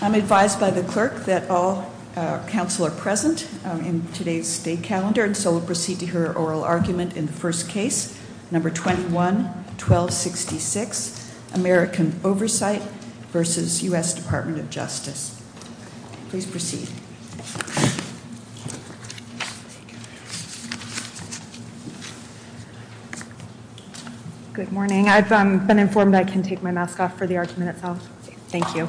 I'm advised by the clerk that all counsel are present in today's state calendar and so we'll proceed to hear oral argument in the first case, number 21-1266, American Oversight v. U.S. Department of Justice. Please proceed. Good morning. I've been informed I can take my mask off for the argument itself. Thank you.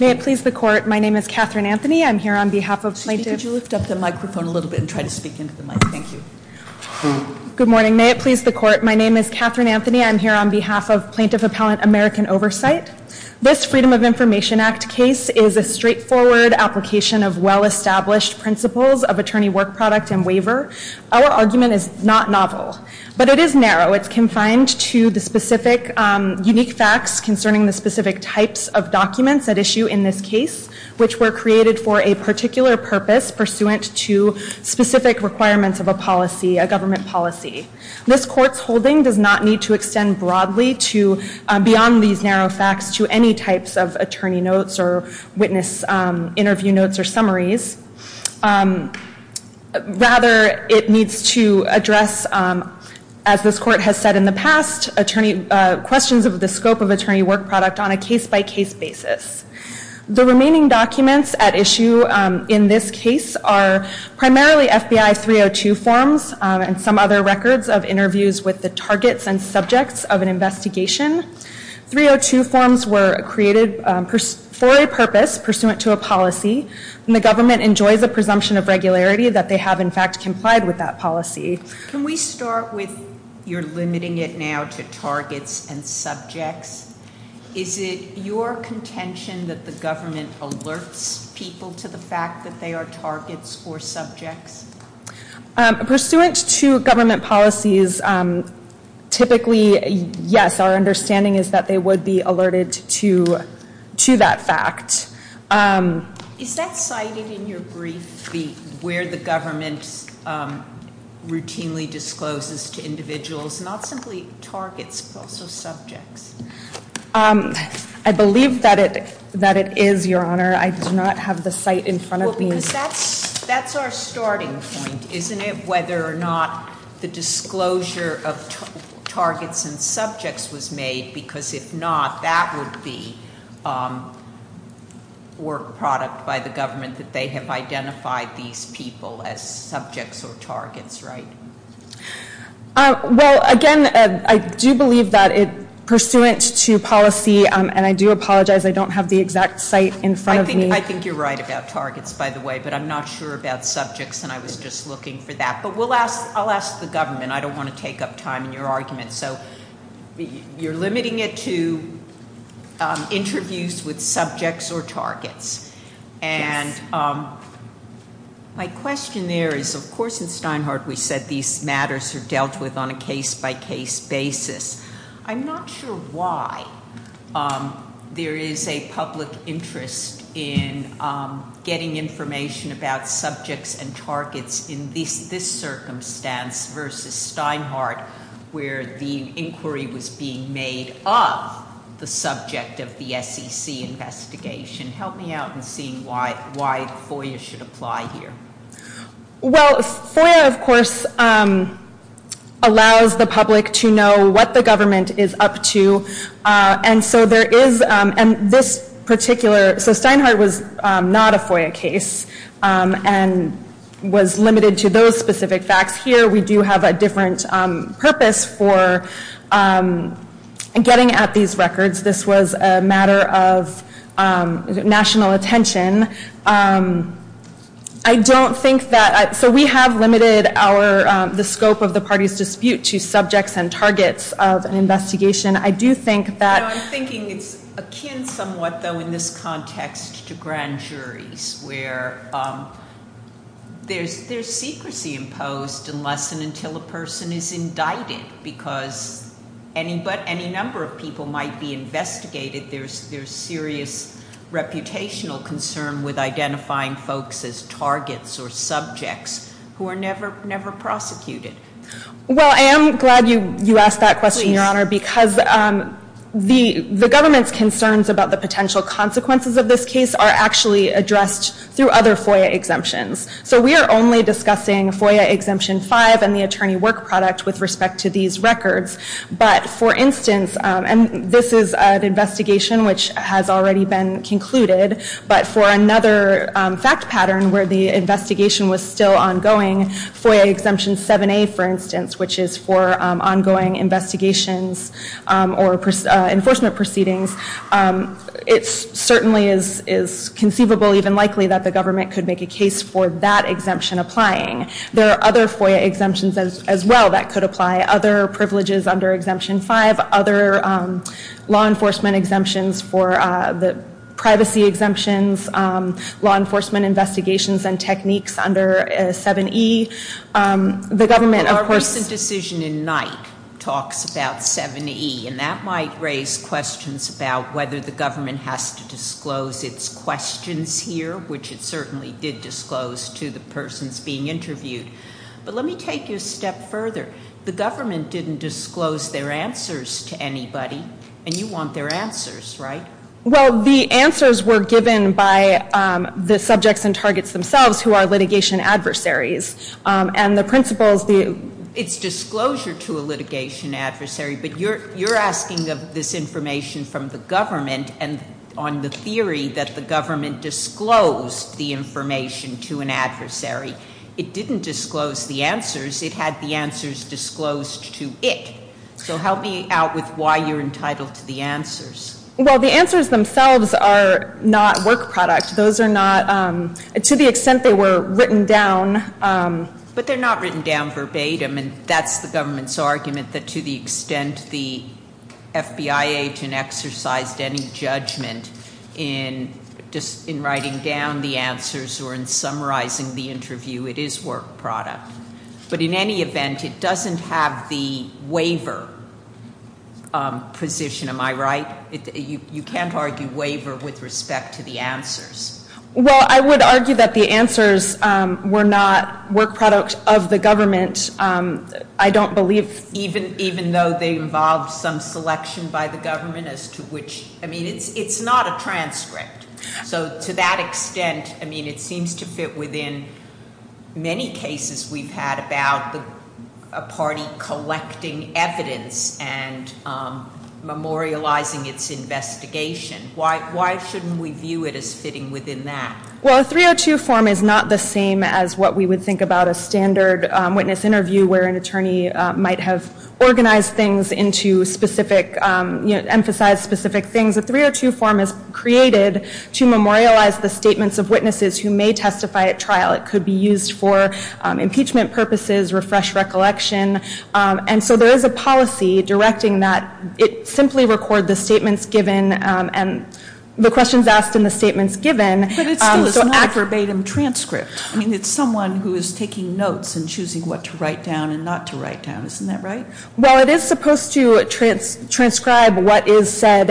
May it please the court, my name is Catherine Anthony. I'm here on behalf of plaintiff Could you lift up the microphone a little bit and try to speak into the mic, thank you. Good morning. May it please the court, my name is Catherine Anthony. I'm here on behalf of plaintiff appellant American Oversight. This Freedom of Information Act case is a straightforward application of well-established principles of attorney work product and waiver. Our argument is not novel, but it is narrow. It's confined to the specific unique facts concerning the specific types of documents at issue in this case, which were created for a particular purpose pursuant to specific requirements of a policy, a government policy. This court's holding does not need to extend broadly to beyond these narrow facts to any types of attorney notes or witness interview notes or summaries. Rather, it needs to address, as this court has said in the past, questions of the scope of attorney work product on a case-by-case basis. The remaining documents at issue in this case are primarily FBI 302 forms and some other records of interviews with the targets and subjects of an investigation. 302 forms were created for a purpose pursuant to a policy, and the government enjoys a presumption of regularity that they have in fact complied with that policy. Can we start with your limiting it now to targets and subjects? Is it your contention that the government alerts people to the fact that they are targets or subjects? Pursuant to government policies, typically, yes, our understanding is that they would be alerted to that fact. Is that cited in your brief where the government routinely discloses to individuals not simply targets but also subjects? I believe that it is, Your Honor. I do not have the site in front of me. Because that's our starting point, isn't it? Whether or not the disclosure of targets and subjects was made, because if not, that would be work product by the government that they have identified these people as subjects or targets, right? Well, again, I do believe that pursuant to policy, and I do apologize, I don't have the exact site in front of me. I think you're right about targets, by the way, but I'm not sure about subjects, and I was just looking for that. But I'll ask the government. I don't want to take up time in your argument. So you're limiting it to interviews with subjects or targets. Yes. And my question there is, of course, in Steinhardt we said these matters are dealt with on a case-by-case basis. I'm not sure why there is a public interest in getting information about subjects and targets in this circumstance versus Steinhardt, where the inquiry was being made of the subject of the SEC investigation. Help me out in seeing why FOIA should apply here. Well, FOIA, of course, allows the public to know what the government is up to. And so there is, and this particular, so Steinhardt was not a FOIA case and was limited to those specific facts. Here we do have a different purpose for getting at these records. This was a matter of national attention. I don't think that, so we have limited the scope of the party's dispute to subjects and targets of an investigation. I do think that- No, I'm thinking it's akin somewhat, though, in this context to grand juries, where there's secrecy imposed unless and until a person is indicted, because any number of people might be investigated. There's serious reputational concern with identifying folks as targets or subjects who are never prosecuted. Well, I am glad you asked that question, Your Honor, because the government's concerns about the potential consequences of this case are actually addressed through other FOIA exemptions. So we are only discussing FOIA Exemption 5 and the attorney work product with respect to these records. But, for instance, and this is an investigation which has already been concluded, but for another fact pattern where the investigation was still ongoing, FOIA Exemption 7A, for instance, which is for ongoing investigations or enforcement proceedings, it certainly is conceivable, even likely, that the government could make a case for that exemption applying. There are other FOIA exemptions as well that could apply, other privileges under Exemption 5, other law enforcement exemptions for the privacy exemptions, law enforcement investigations and techniques under 7E. The government, of course- talks about 7E, and that might raise questions about whether the government has to disclose its questions here, which it certainly did disclose to the persons being interviewed. But let me take you a step further. The government didn't disclose their answers to anybody, and you want their answers, right? Well, the answers were given by the subjects and targets themselves who are litigation adversaries. And the principles- It's disclosure to a litigation adversary, but you're asking of this information from the government and on the theory that the government disclosed the information to an adversary. It didn't disclose the answers. It had the answers disclosed to it. So help me out with why you're entitled to the answers. Well, the answers themselves are not work product. To the extent they were written down- But they're not written down verbatim, and that's the government's argument, that to the extent the FBI agent exercised any judgment in writing down the answers or in summarizing the interview, it is work product. But in any event, it doesn't have the waiver position, am I right? You can't argue waiver with respect to the answers. Well, I would argue that the answers were not work product of the government. I don't believe- Even though they involved some selection by the government as to which- I mean, it's not a transcript. So to that extent, I mean, it seems to fit within many cases we've had about a party collecting evidence and memorializing its investigation. Why shouldn't we view it as fitting within that? Well, a 302 form is not the same as what we would think about a standard witness interview where an attorney might have organized things into specific-emphasized specific things. A 302 form is created to memorialize the statements of witnesses who may testify at trial. It could be used for impeachment purposes, refresh recollection. And so there is a policy directing that it simply record the statements given and the questions asked and the statements given. But it still is not a verbatim transcript. I mean, it's someone who is taking notes and choosing what to write down and not to write down. Isn't that right? Well, it is supposed to transcribe what is said.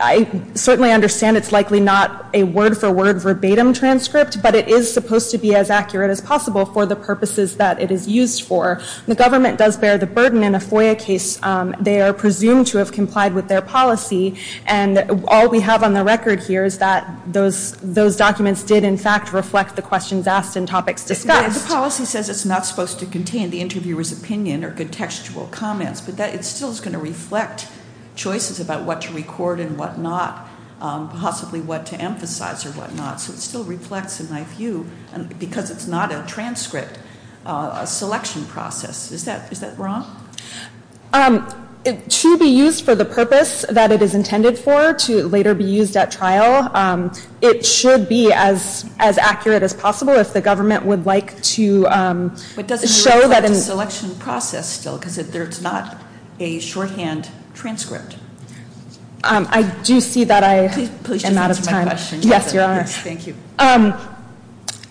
I certainly understand it's likely not a word-for-word verbatim transcript, but it is supposed to be as accurate as possible for the purposes that it is used for. The government does bear the burden in a FOIA case. They are presumed to have complied with their policy. And all we have on the record here is that those documents did, in fact, reflect the questions asked and topics discussed. The policy says it's not supposed to contain the interviewer's opinion or contextual comments, but it still is going to reflect choices about what to record and what not, possibly what to emphasize or what not. So it still reflects, in my view, because it's not a transcript, a selection process. Is that wrong? To be used for the purpose that it is intended for, to later be used at trial, it should be as accurate as possible if the government would like to show that in – But doesn't it reflect a selection process still because it's not a shorthand transcript? I do see that I am out of time. Yes, you are. Thank you.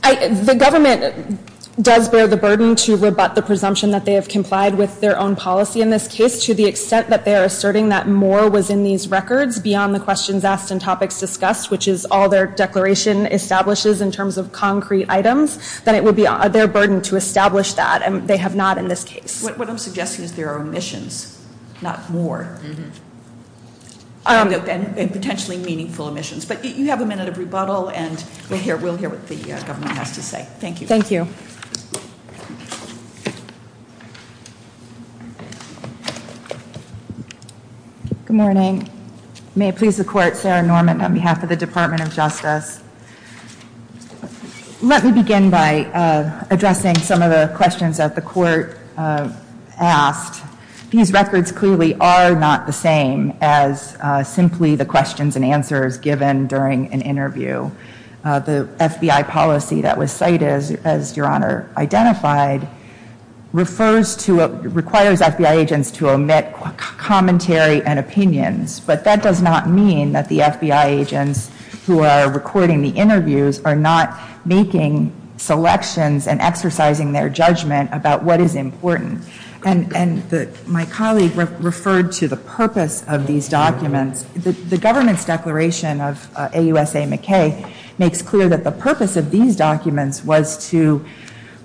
The government does bear the burden to rebut the presumption that they have complied with their own policy in this case to the extent that they are asserting that more was in these records beyond the questions asked and topics discussed, which is all their declaration establishes in terms of concrete items, that it would be their burden to establish that, and they have not in this case. What I'm suggesting is there are omissions, not more, and potentially meaningful omissions. But you have a minute of rebuttal, and we'll hear what the government has to say. Thank you. Thank you. Good morning. May it please the Court, Sarah Norman on behalf of the Department of Justice. Let me begin by addressing some of the questions that the Court asked. These records clearly are not the same as simply the questions and answers given during an interview. The FBI policy that was cited, as Your Honor identified, requires FBI agents to omit commentary and opinions, but that does not mean that the FBI agents who are recording the interviews are not making selections and exercising their judgment about what is important. And my colleague referred to the purpose of these documents. The government's declaration of AUSA McKay makes clear that the purpose of these documents was to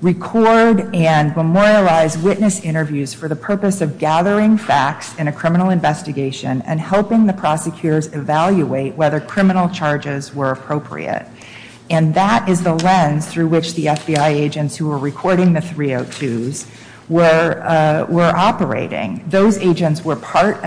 record and memorialize witness interviews for the purpose of gathering facts in a criminal investigation and helping the prosecutors evaluate whether criminal charges were appropriate. And that is the lens through which the FBI agents who were recording the 302s were operating. Those agents were part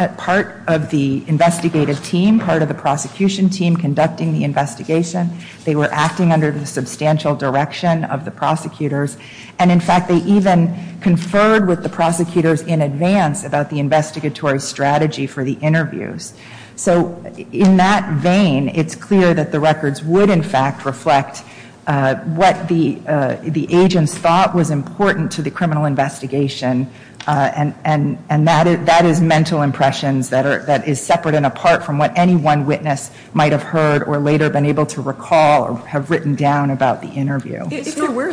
of the investigative team, part of the prosecution team conducting the investigation. They were acting under the substantial direction of the prosecutors. And in fact, they even conferred with the prosecutors in advance about the investigatory strategy for the interviews. So in that vein, it's clear that the records would in fact reflect what the agents thought was important to the criminal investigation. And that is mental impressions that is separate and apart from what any one witness might have heard or later been able to recall or have written down about the interview. If there were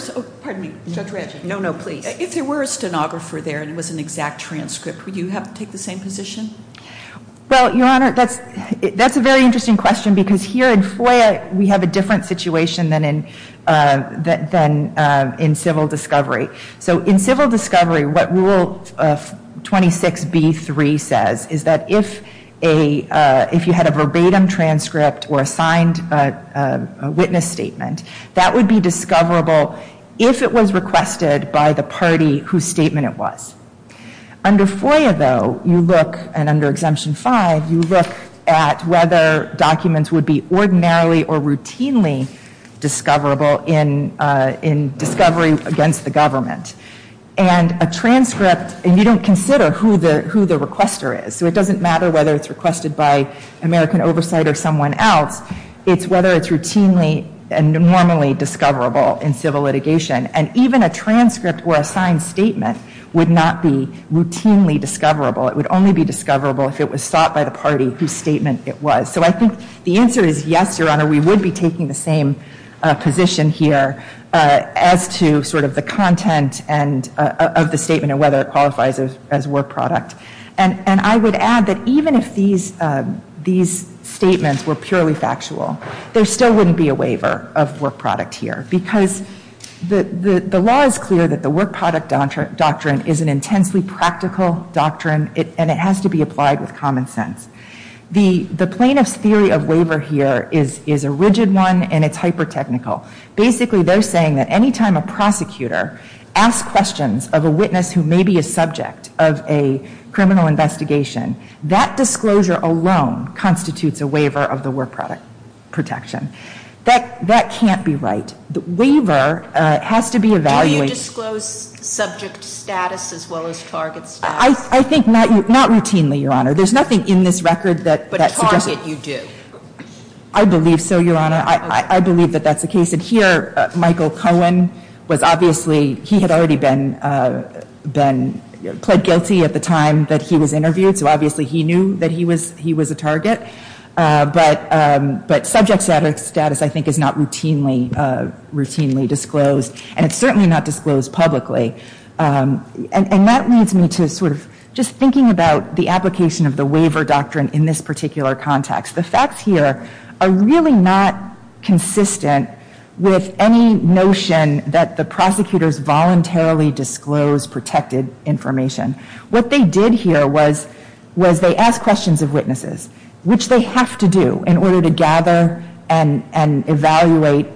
a stenographer there and it was an exact transcript, would you take the same position? Well, Your Honor, that's a very interesting question because here in FOIA, we have a different situation than in civil discovery. So in civil discovery, what Rule 26b-3 says is that if you had a verbatim transcript or a signed witness statement, that would be discoverable if it was requested by the party whose statement it was. Under FOIA, though, you look, and under Exemption 5, you look at whether documents would be ordinarily or routinely discoverable in discovery against the government. And a transcript, and you don't consider who the requester is, so it doesn't matter whether it's requested by American Oversight or someone else, it's whether it's routinely and normally discoverable in civil litigation. And even a transcript or a signed statement would not be routinely discoverable. It would only be discoverable if it was sought by the party whose statement it was. So I think the answer is yes, Your Honor, we would be taking the same position here as to sort of the content of the statement and whether it qualifies as work product. And I would add that even if these statements were purely factual, there still wouldn't be a waiver of work product here because the law is clear that the work product doctrine is an intensely practical doctrine, and it has to be applied with common sense. The plaintiff's theory of waiver here is a rigid one, and it's hyper-technical. Basically, they're saying that any time a prosecutor asks questions of a witness who may be a subject of a criminal investigation, that disclosure alone constitutes a waiver of the work product protection. That can't be right. The waiver has to be evaluated. Do you disclose subject status as well as target status? I think not routinely, Your Honor. There's nothing in this record that suggests it. But target you do? I believe so, Your Honor. I believe that that's the case. And here, Michael Cohen was obviously he had already been pled guilty at the time that he was interviewed, so obviously he knew that he was a target. But subject status, I think, is not routinely disclosed, and it's certainly not disclosed publicly. And that leads me to sort of just thinking about the application of the waiver doctrine in this particular context. The facts here are really not consistent with any notion that the prosecutors voluntarily disclosed protected information. What they did here was they asked questions of witnesses, which they have to do in order to gather and evaluate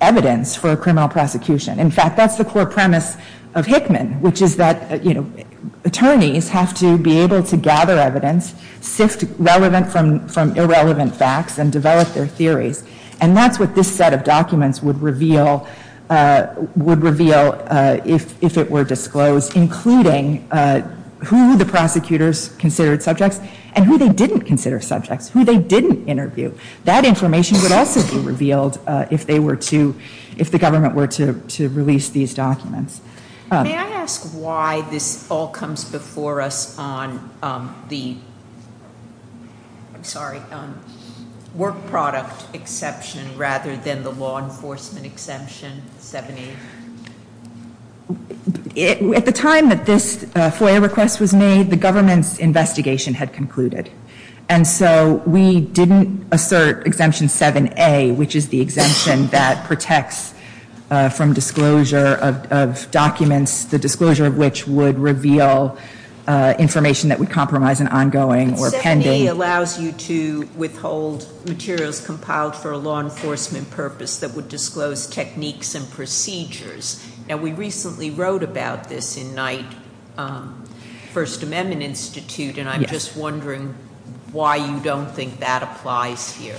evidence for a criminal prosecution. In fact, that's the core premise of Hickman, which is that attorneys have to be able to gather evidence, sift relevant from irrelevant facts, and develop their theories. And that's what this set of documents would reveal if it were disclosed, including who the prosecutors considered subjects and who they didn't consider subjects, who they didn't interview. That information would also be revealed if they were to, if the government were to release these documents. May I ask why this all comes before us on the, I'm sorry, work product exception rather than the law enforcement exemption, 7A? At the time that this FOIA request was made, the government's investigation had concluded. And so we didn't assert Exemption 7A, which is the exemption that protects from disclosure of documents, the disclosure of which would reveal information that would compromise an ongoing or pending He allows you to withhold materials compiled for a law enforcement purpose that would disclose techniques and procedures. Now, we recently wrote about this in Knight First Amendment Institute, and I'm just wondering why you don't think that applies here.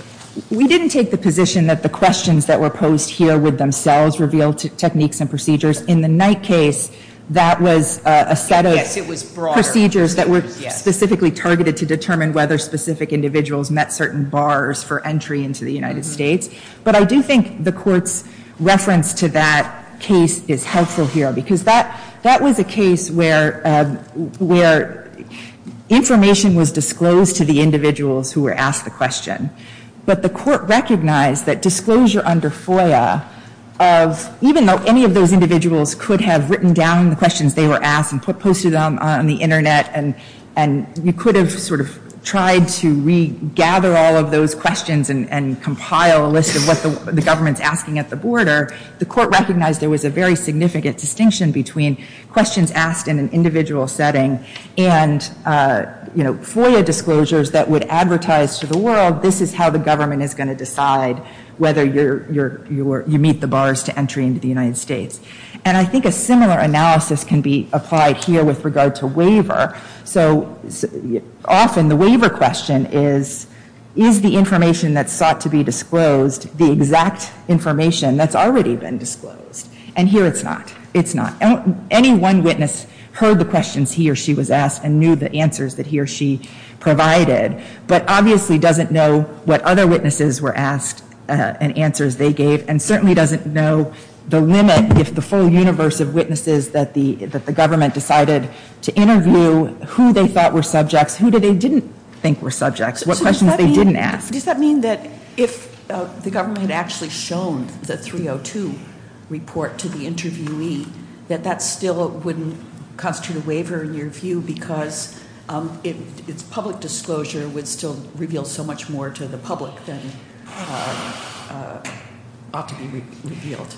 We didn't take the position that the questions that were posed here would themselves reveal techniques and procedures. In the Knight case, that was a set of- Yes, it was broader. procedures that were specifically targeted to determine whether specific individuals met certain bars for entry into the United States. But I do think the Court's reference to that case is helpful here, because that, that was a case where, where information was disclosed to the individuals who were asked the question. But the Court recognized that disclosure under FOIA of, even though any of those individuals could have written down the questions they were asked and posted them on the Internet, and you could have sort of tried to regather all of those questions and compile a list of what the government's asking at the border, the Court recognized there was a very significant distinction between questions asked in an individual setting and, you know, FOIA disclosures that would advertise to the world, this is how the government is going to decide whether you meet the bars to entry into the United States. And I think a similar analysis can be applied here with regard to waiver. So often the waiver question is, is the information that's sought to be disclosed the exact information that's already been disclosed? And here it's not. It's not. Any one witness heard the questions he or she was asked and knew the answers that he or she provided, but obviously doesn't know what other witnesses were asked and answers they gave, and certainly doesn't know the limit if the full universe of witnesses that the government decided to interview, who they thought were subjects, who they didn't think were subjects, what questions they didn't ask. Does that mean that if the government had actually shown the 302 report to the interviewee, that that still wouldn't constitute a waiver in your view, because its public disclosure would still reveal so much more to the public than ought to be revealed?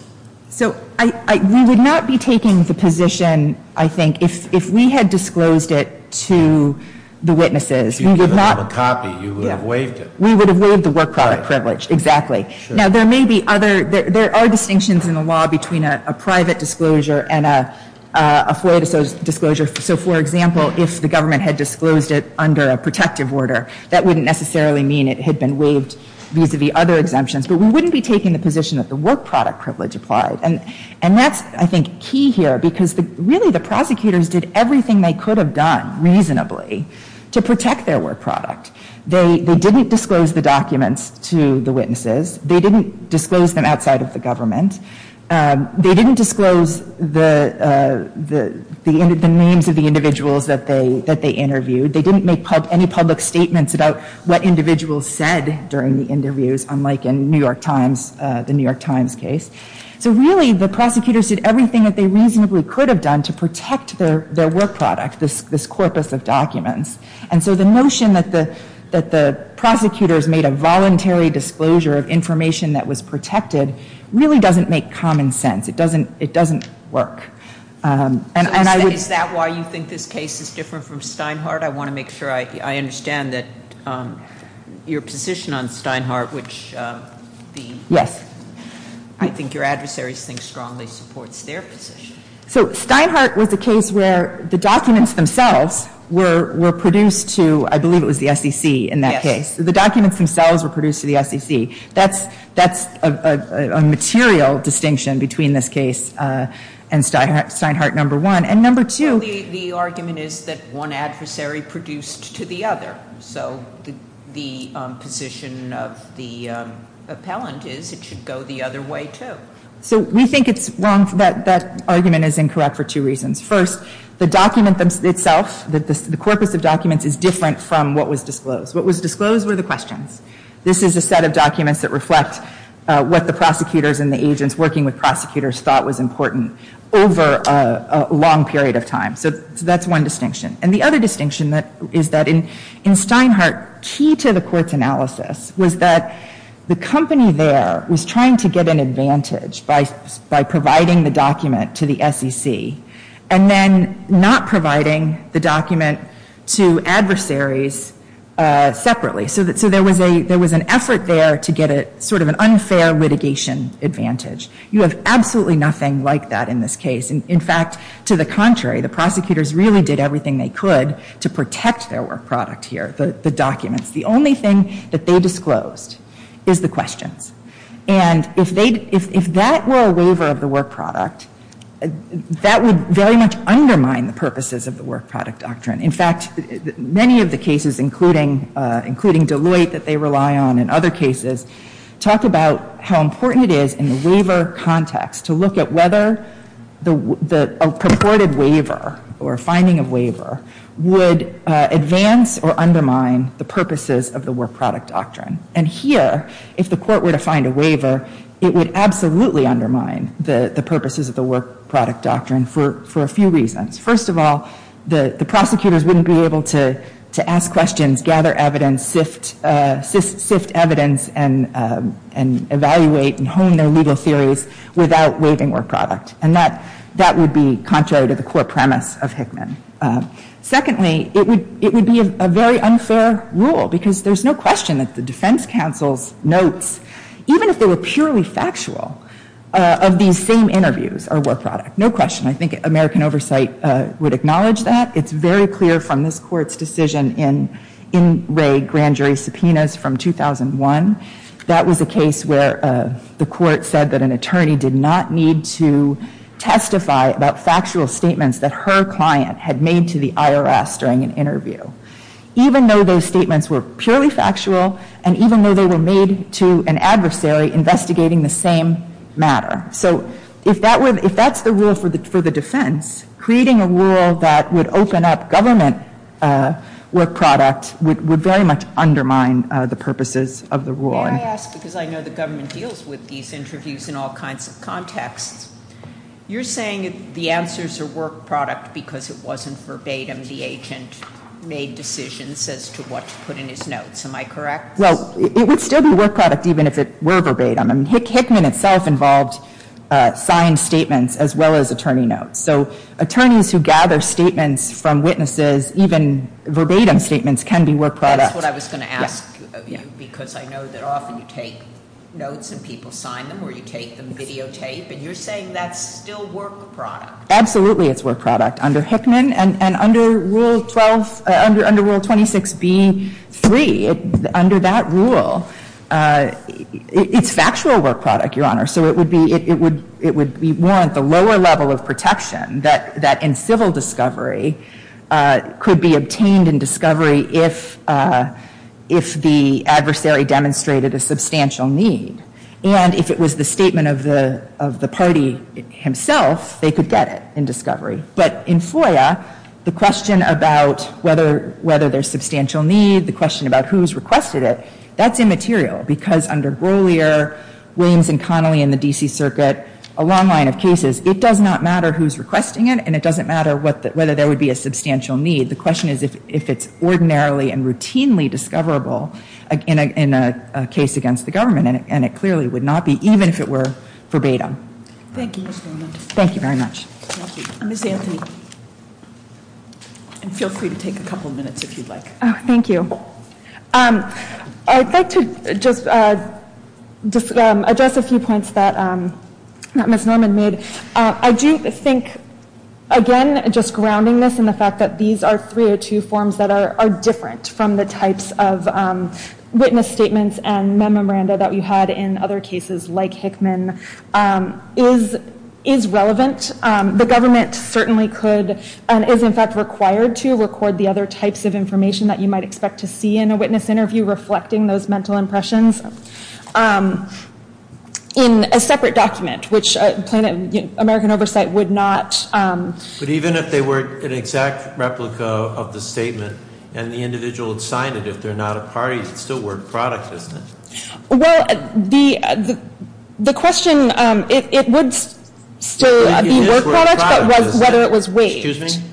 So we would not be taking the position, I think, if we had disclosed it to the witnesses. If you gave them a copy, you would have waived it. We would have waived the work product privilege, exactly. Now, there are distinctions in the law between a private disclosure and a FOIA disclosure. So, for example, if the government had disclosed it under a protective order, that wouldn't necessarily mean it had been waived vis-a-vis other exemptions. But we wouldn't be taking the position that the work product privilege applied. And that's, I think, key here, because really the prosecutors did everything they could have done, reasonably, to protect their work product. They didn't disclose the documents to the witnesses. They didn't disclose them outside of the government. They didn't disclose the names of the individuals that they interviewed. They didn't make any public statements about what individuals said during the interviews, unlike in the New York Times case. So really, the prosecutors did everything that they reasonably could have done to protect their work product, this corpus of documents. And so the notion that the prosecutors made a voluntary disclosure of information that was protected really doesn't make common sense. It doesn't work. And I would... Is that why you think this case is different from Steinhardt? I want to make sure I understand that your position on Steinhardt, which the... Yes. I think your adversaries think strongly supports their position. So Steinhardt was a case where the documents themselves were produced to, I believe it was the SEC in that case. Yes. The documents themselves were produced to the SEC. That's a material distinction between this case and Steinhardt No. 1. And No. 2... Well, the argument is that one adversary produced to the other. So the position of the appellant is it should go the other way, too. So we think it's wrong... That argument is incorrect for two reasons. First, the document itself, the corpus of documents, is different from what was disclosed. What was disclosed were the questions. This is a set of documents that reflect what the prosecutors and the agents working with prosecutors thought was important over a long period of time. So that's one distinction. And the other distinction is that in Steinhardt, was that the company there was trying to get an advantage by providing the document to the SEC and then not providing the document to adversaries separately. So there was an effort there to get sort of an unfair litigation advantage. You have absolutely nothing like that in this case. In fact, to the contrary, the prosecutors really did everything they could to protect their work product here, the documents. The only thing that they disclosed is the questions. And if that were a waiver of the work product, that would very much undermine the purposes of the work product doctrine. In fact, many of the cases, including Deloitte that they rely on and other cases, talk about how important it is in the waiver context to look at whether a purported waiver or finding of waiver would advance or undermine the purposes of the work product doctrine. And here, if the court were to find a waiver, it would absolutely undermine the purposes of the work product doctrine for a few reasons. First of all, the prosecutors wouldn't be able to ask questions, gather evidence, sift evidence, and evaluate and hone their legal theories without waiving work product. And that would be contrary to the core premise of Hickman. Secondly, it would be a very unfair rule, because there's no question that the defense counsel's notes, even if they were purely factual, of these same interviews are work product. No question. I think American Oversight would acknowledge that. It's very clear from this court's decision in Wray grand jury subpoenas from 2001. That was a case where the court said that an attorney did not need to testify about factual statements that her client had made to the IRS during an interview, even though those statements were purely factual and even though they were made to an adversary investigating the same matter. So if that's the rule for the defense, creating a rule that would open up government work product would very much undermine the purposes of the rule. May I ask, because I know the government deals with these interviews in all kinds of contexts, you're saying the answers are work product because it wasn't verbatim the agent made decisions as to what to put in his notes. Am I correct? Well, it would still be work product even if it were verbatim. I mean, Hickman itself involved signed statements as well as attorney notes. So attorneys who gather statements from witnesses, even verbatim statements, can be work product. That's what I was going to ask you because I know that often you take notes and people sign them or you take them videotape and you're saying that's still work product. Absolutely it's work product under Hickman and under Rule 26B-3, under that rule, it's factual work product, Your Honor. So it would warrant the lower level of protection that in civil discovery could be obtained in discovery if the adversary demonstrated a substantial need. And if it was the statement of the party himself, they could get it in discovery. But in FOIA, the question about whether there's substantial need, the question about who's requested it, that's immaterial because under Grolier, Williams, and Connolly in the D.C. Circuit, a long line of cases, it does not matter who's requesting it and it doesn't matter whether there would be a substantial need. The question is if it's ordinarily and routinely discoverable in a case against the government and it clearly would not be even if it were verbatim. Thank you. Thank you very much. Thank you. Ms. Anthony. And feel free to take a couple of minutes if you'd like. Oh, thank you. I'd like to just address a few points that Ms. Norman made. I do think, again, just grounding this in the fact that these are three or two forms that are different from the types of witness statements and memoranda that we had in other cases like Hickman is relevant. The government certainly could and is in fact required to record the other types of information that you might expect to see in a witness interview reflecting those mental impressions in a separate document, which American Oversight would not. But even if they were an exact replica of the statement and the individual had signed it, if they're not a party, it's still work product, isn't it? Well, the question, it would still be work product, but whether it was waived. Excuse me?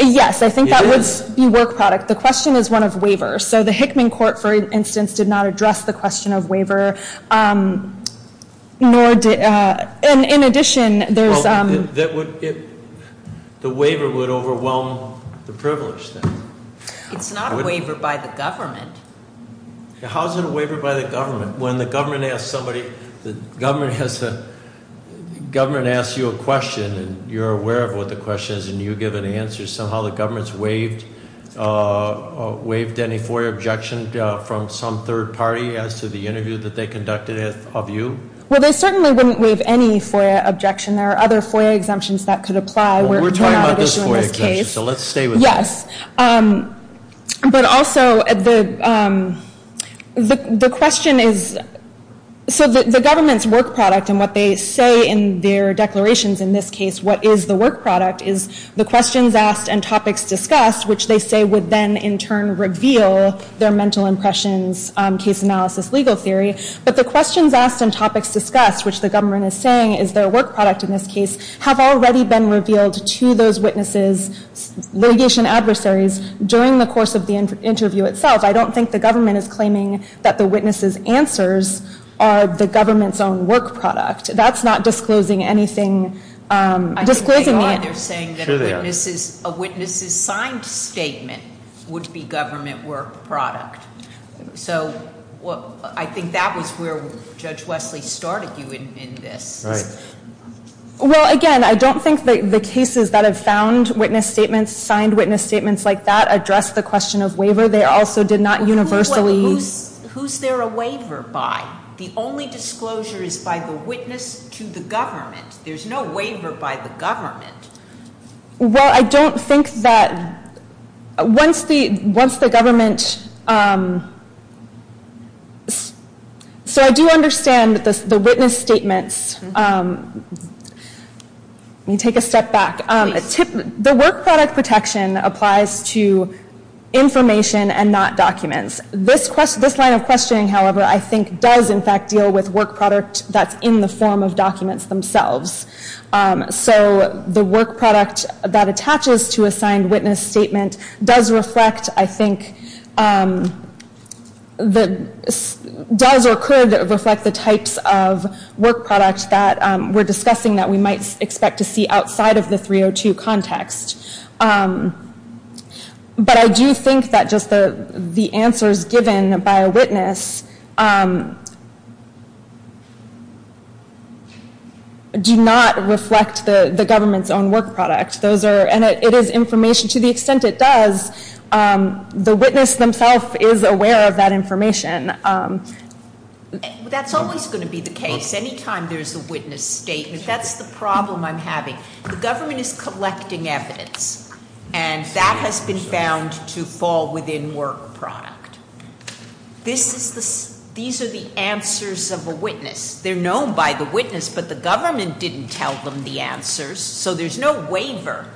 Yes, I think that would be work product. The question is one of waiver. So the Hickman court, for instance, did not address the question of waiver. In addition, there's- The waiver would overwhelm the privilege then. It's not a waiver by the government. How is it a waiver by the government? When the government asks somebody, the government asks you a question and you're aware of what the question is and you give an answer, somehow the government's waived any FOIA objection from some third party as to the interview that they conducted of you? Well, they certainly wouldn't waive any FOIA objection. There are other FOIA exemptions that could apply. Well, we're talking about this FOIA exemption, so let's stay with that. Yes, but also the question is- So the government's work product and what they say in their declarations in this case, what is the work product, is the questions asked and topics discussed, which they say would then in turn reveal their mental impressions, case analysis, legal theory. But the questions asked and topics discussed, which the government is saying is their work product in this case, have already been revealed to those witnesses, litigation adversaries, during the course of the interview itself. I don't think the government is claiming that the witnesses' answers are the government's own work product. That's not disclosing anything. I think they are. They're saying that a witness's signed statement would be government work product. So I think that was where Judge Wesley started you in this. Right. Well, again, I don't think the cases that have found witness statements, signed witness statements like that, address the question of waiver. They also did not universally- Who's there a waiver by? The only disclosure is by the witness to the government. There's no waiver by the government. Well, I don't think that once the government- So I do understand the witness statements. Let me take a step back. The work product protection applies to information and not documents. This line of questioning, however, I think does in fact deal with work product that's in the form of documents themselves. So the work product that attaches to a signed witness statement does reflect, I think, does or could reflect the types of work product that we're discussing that we might expect to see outside of the 302 context. But I do think that just the answers given by a witness do not reflect the government's own work product. Those are, and it is information, to the extent it does, the witness themselves is aware of that information. That's always going to be the case. Anytime there's a witness statement, that's the problem I'm having. The government is collecting evidence, and that has been found to fall within work product. These are the answers of a witness. They're known by the witness, but the government didn't tell them the answers, so there's no waiver.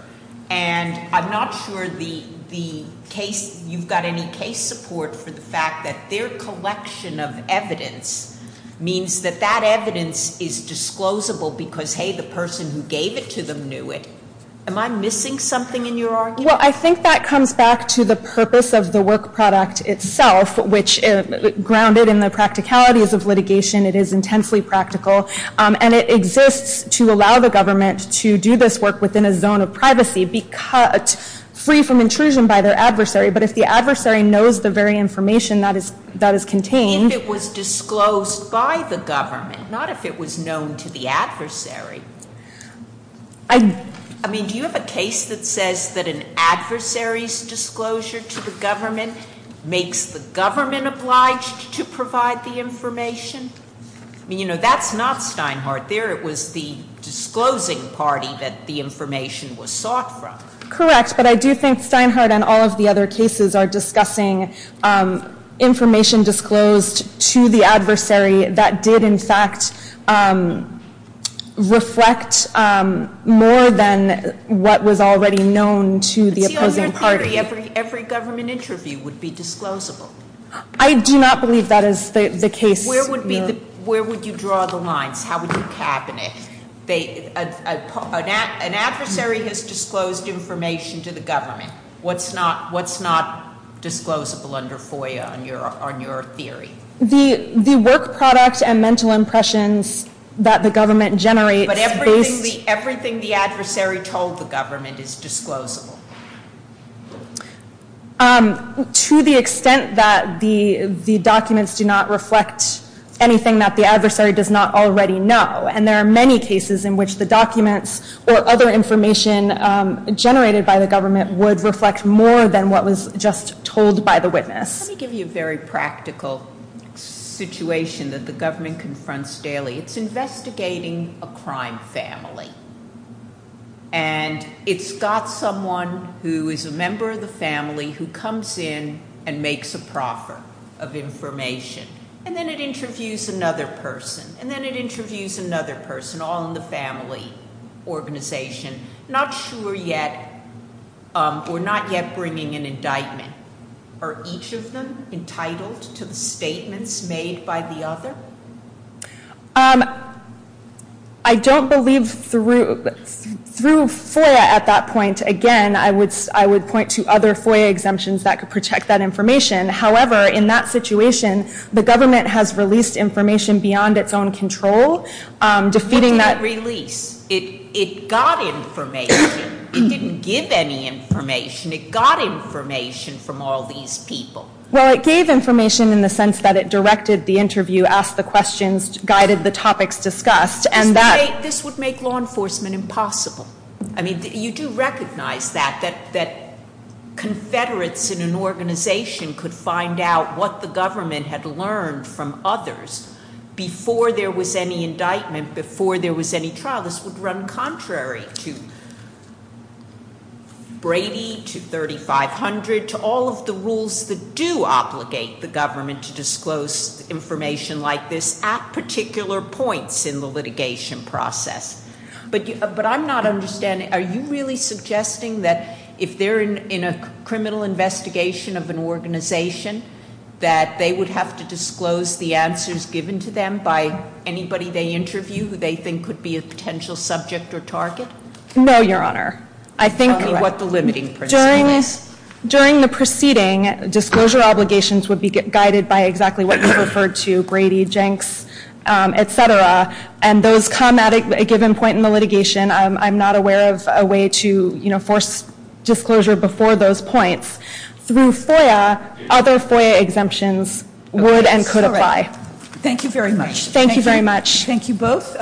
And I'm not sure you've got any case support for the fact that their collection of evidence means that that evidence is disclosable because, hey, the person who gave it to them knew it. Am I missing something in your argument? Well, I think that comes back to the purpose of the work product itself, which, grounded in the practicalities of litigation, it is intensely practical, and it exists to allow the government to do this work within a zone of privacy, be cut free from intrusion by their adversary. But if the adversary knows the very information that is contained- I mean, do you have a case that says that an adversary's disclosure to the government makes the government obliged to provide the information? I mean, you know, that's not Steinhardt there. It was the disclosing party that the information was sought from. Correct, but I do think Steinhardt and all of the other cases are discussing information disclosed to the adversary that did, in fact, reflect more than what was already known to the opposing party. See, on your theory, every government interview would be disclosable. I do not believe that is the case. Where would you draw the lines? How would you cabinet? An adversary has disclosed information to the government. What's not disclosable under FOIA on your theory? The work product and mental impressions that the government generates- But everything the adversary told the government is disclosable. To the extent that the documents do not reflect anything that the adversary does not already know. And there are many cases in which the documents or other information generated by the government would reflect more than what was just told by the witness. Let me give you a very practical situation that the government confronts daily. It's investigating a crime family. And it's got someone who is a member of the family who comes in and makes a proffer of information. And then it interviews another person. And then it interviews another person, all in the family organization. Not sure yet, or not yet bringing an indictment. Are each of them entitled to the statements made by the other? I don't believe through FOIA at that point. Again, I would point to other FOIA exemptions that could protect that information. However, in that situation, the government has released information beyond its own control. What did it release? It got information. It didn't give any information. It got information from all these people. Well, it gave information in the sense that it directed the interview, asked the questions, guided the topics discussed. This would make law enforcement impossible. I mean, you do recognize that, that confederates in an organization could find out what the government had learned from others before there was any indictment, before there was any trial. This would run contrary to Brady, to 3500, to all of the rules that do obligate the government to disclose information like this at particular points in the litigation process. But I'm not understanding, are you really suggesting that if they're in a criminal investigation of an organization, that they would have to disclose the answers given to them by anybody they interview who they think could be a potential subject or target? No, Your Honor. Tell me what the limiting principle is. During the proceeding, disclosure obligations would be guided by exactly what you referred to, Brady, Jenks, et cetera. And those come at a given point in the litigation. I'm not aware of a way to, you know, force disclosure before those points. Through FOIA, other FOIA exemptions would and could apply. Thank you very much. Thank you very much. Thank you both.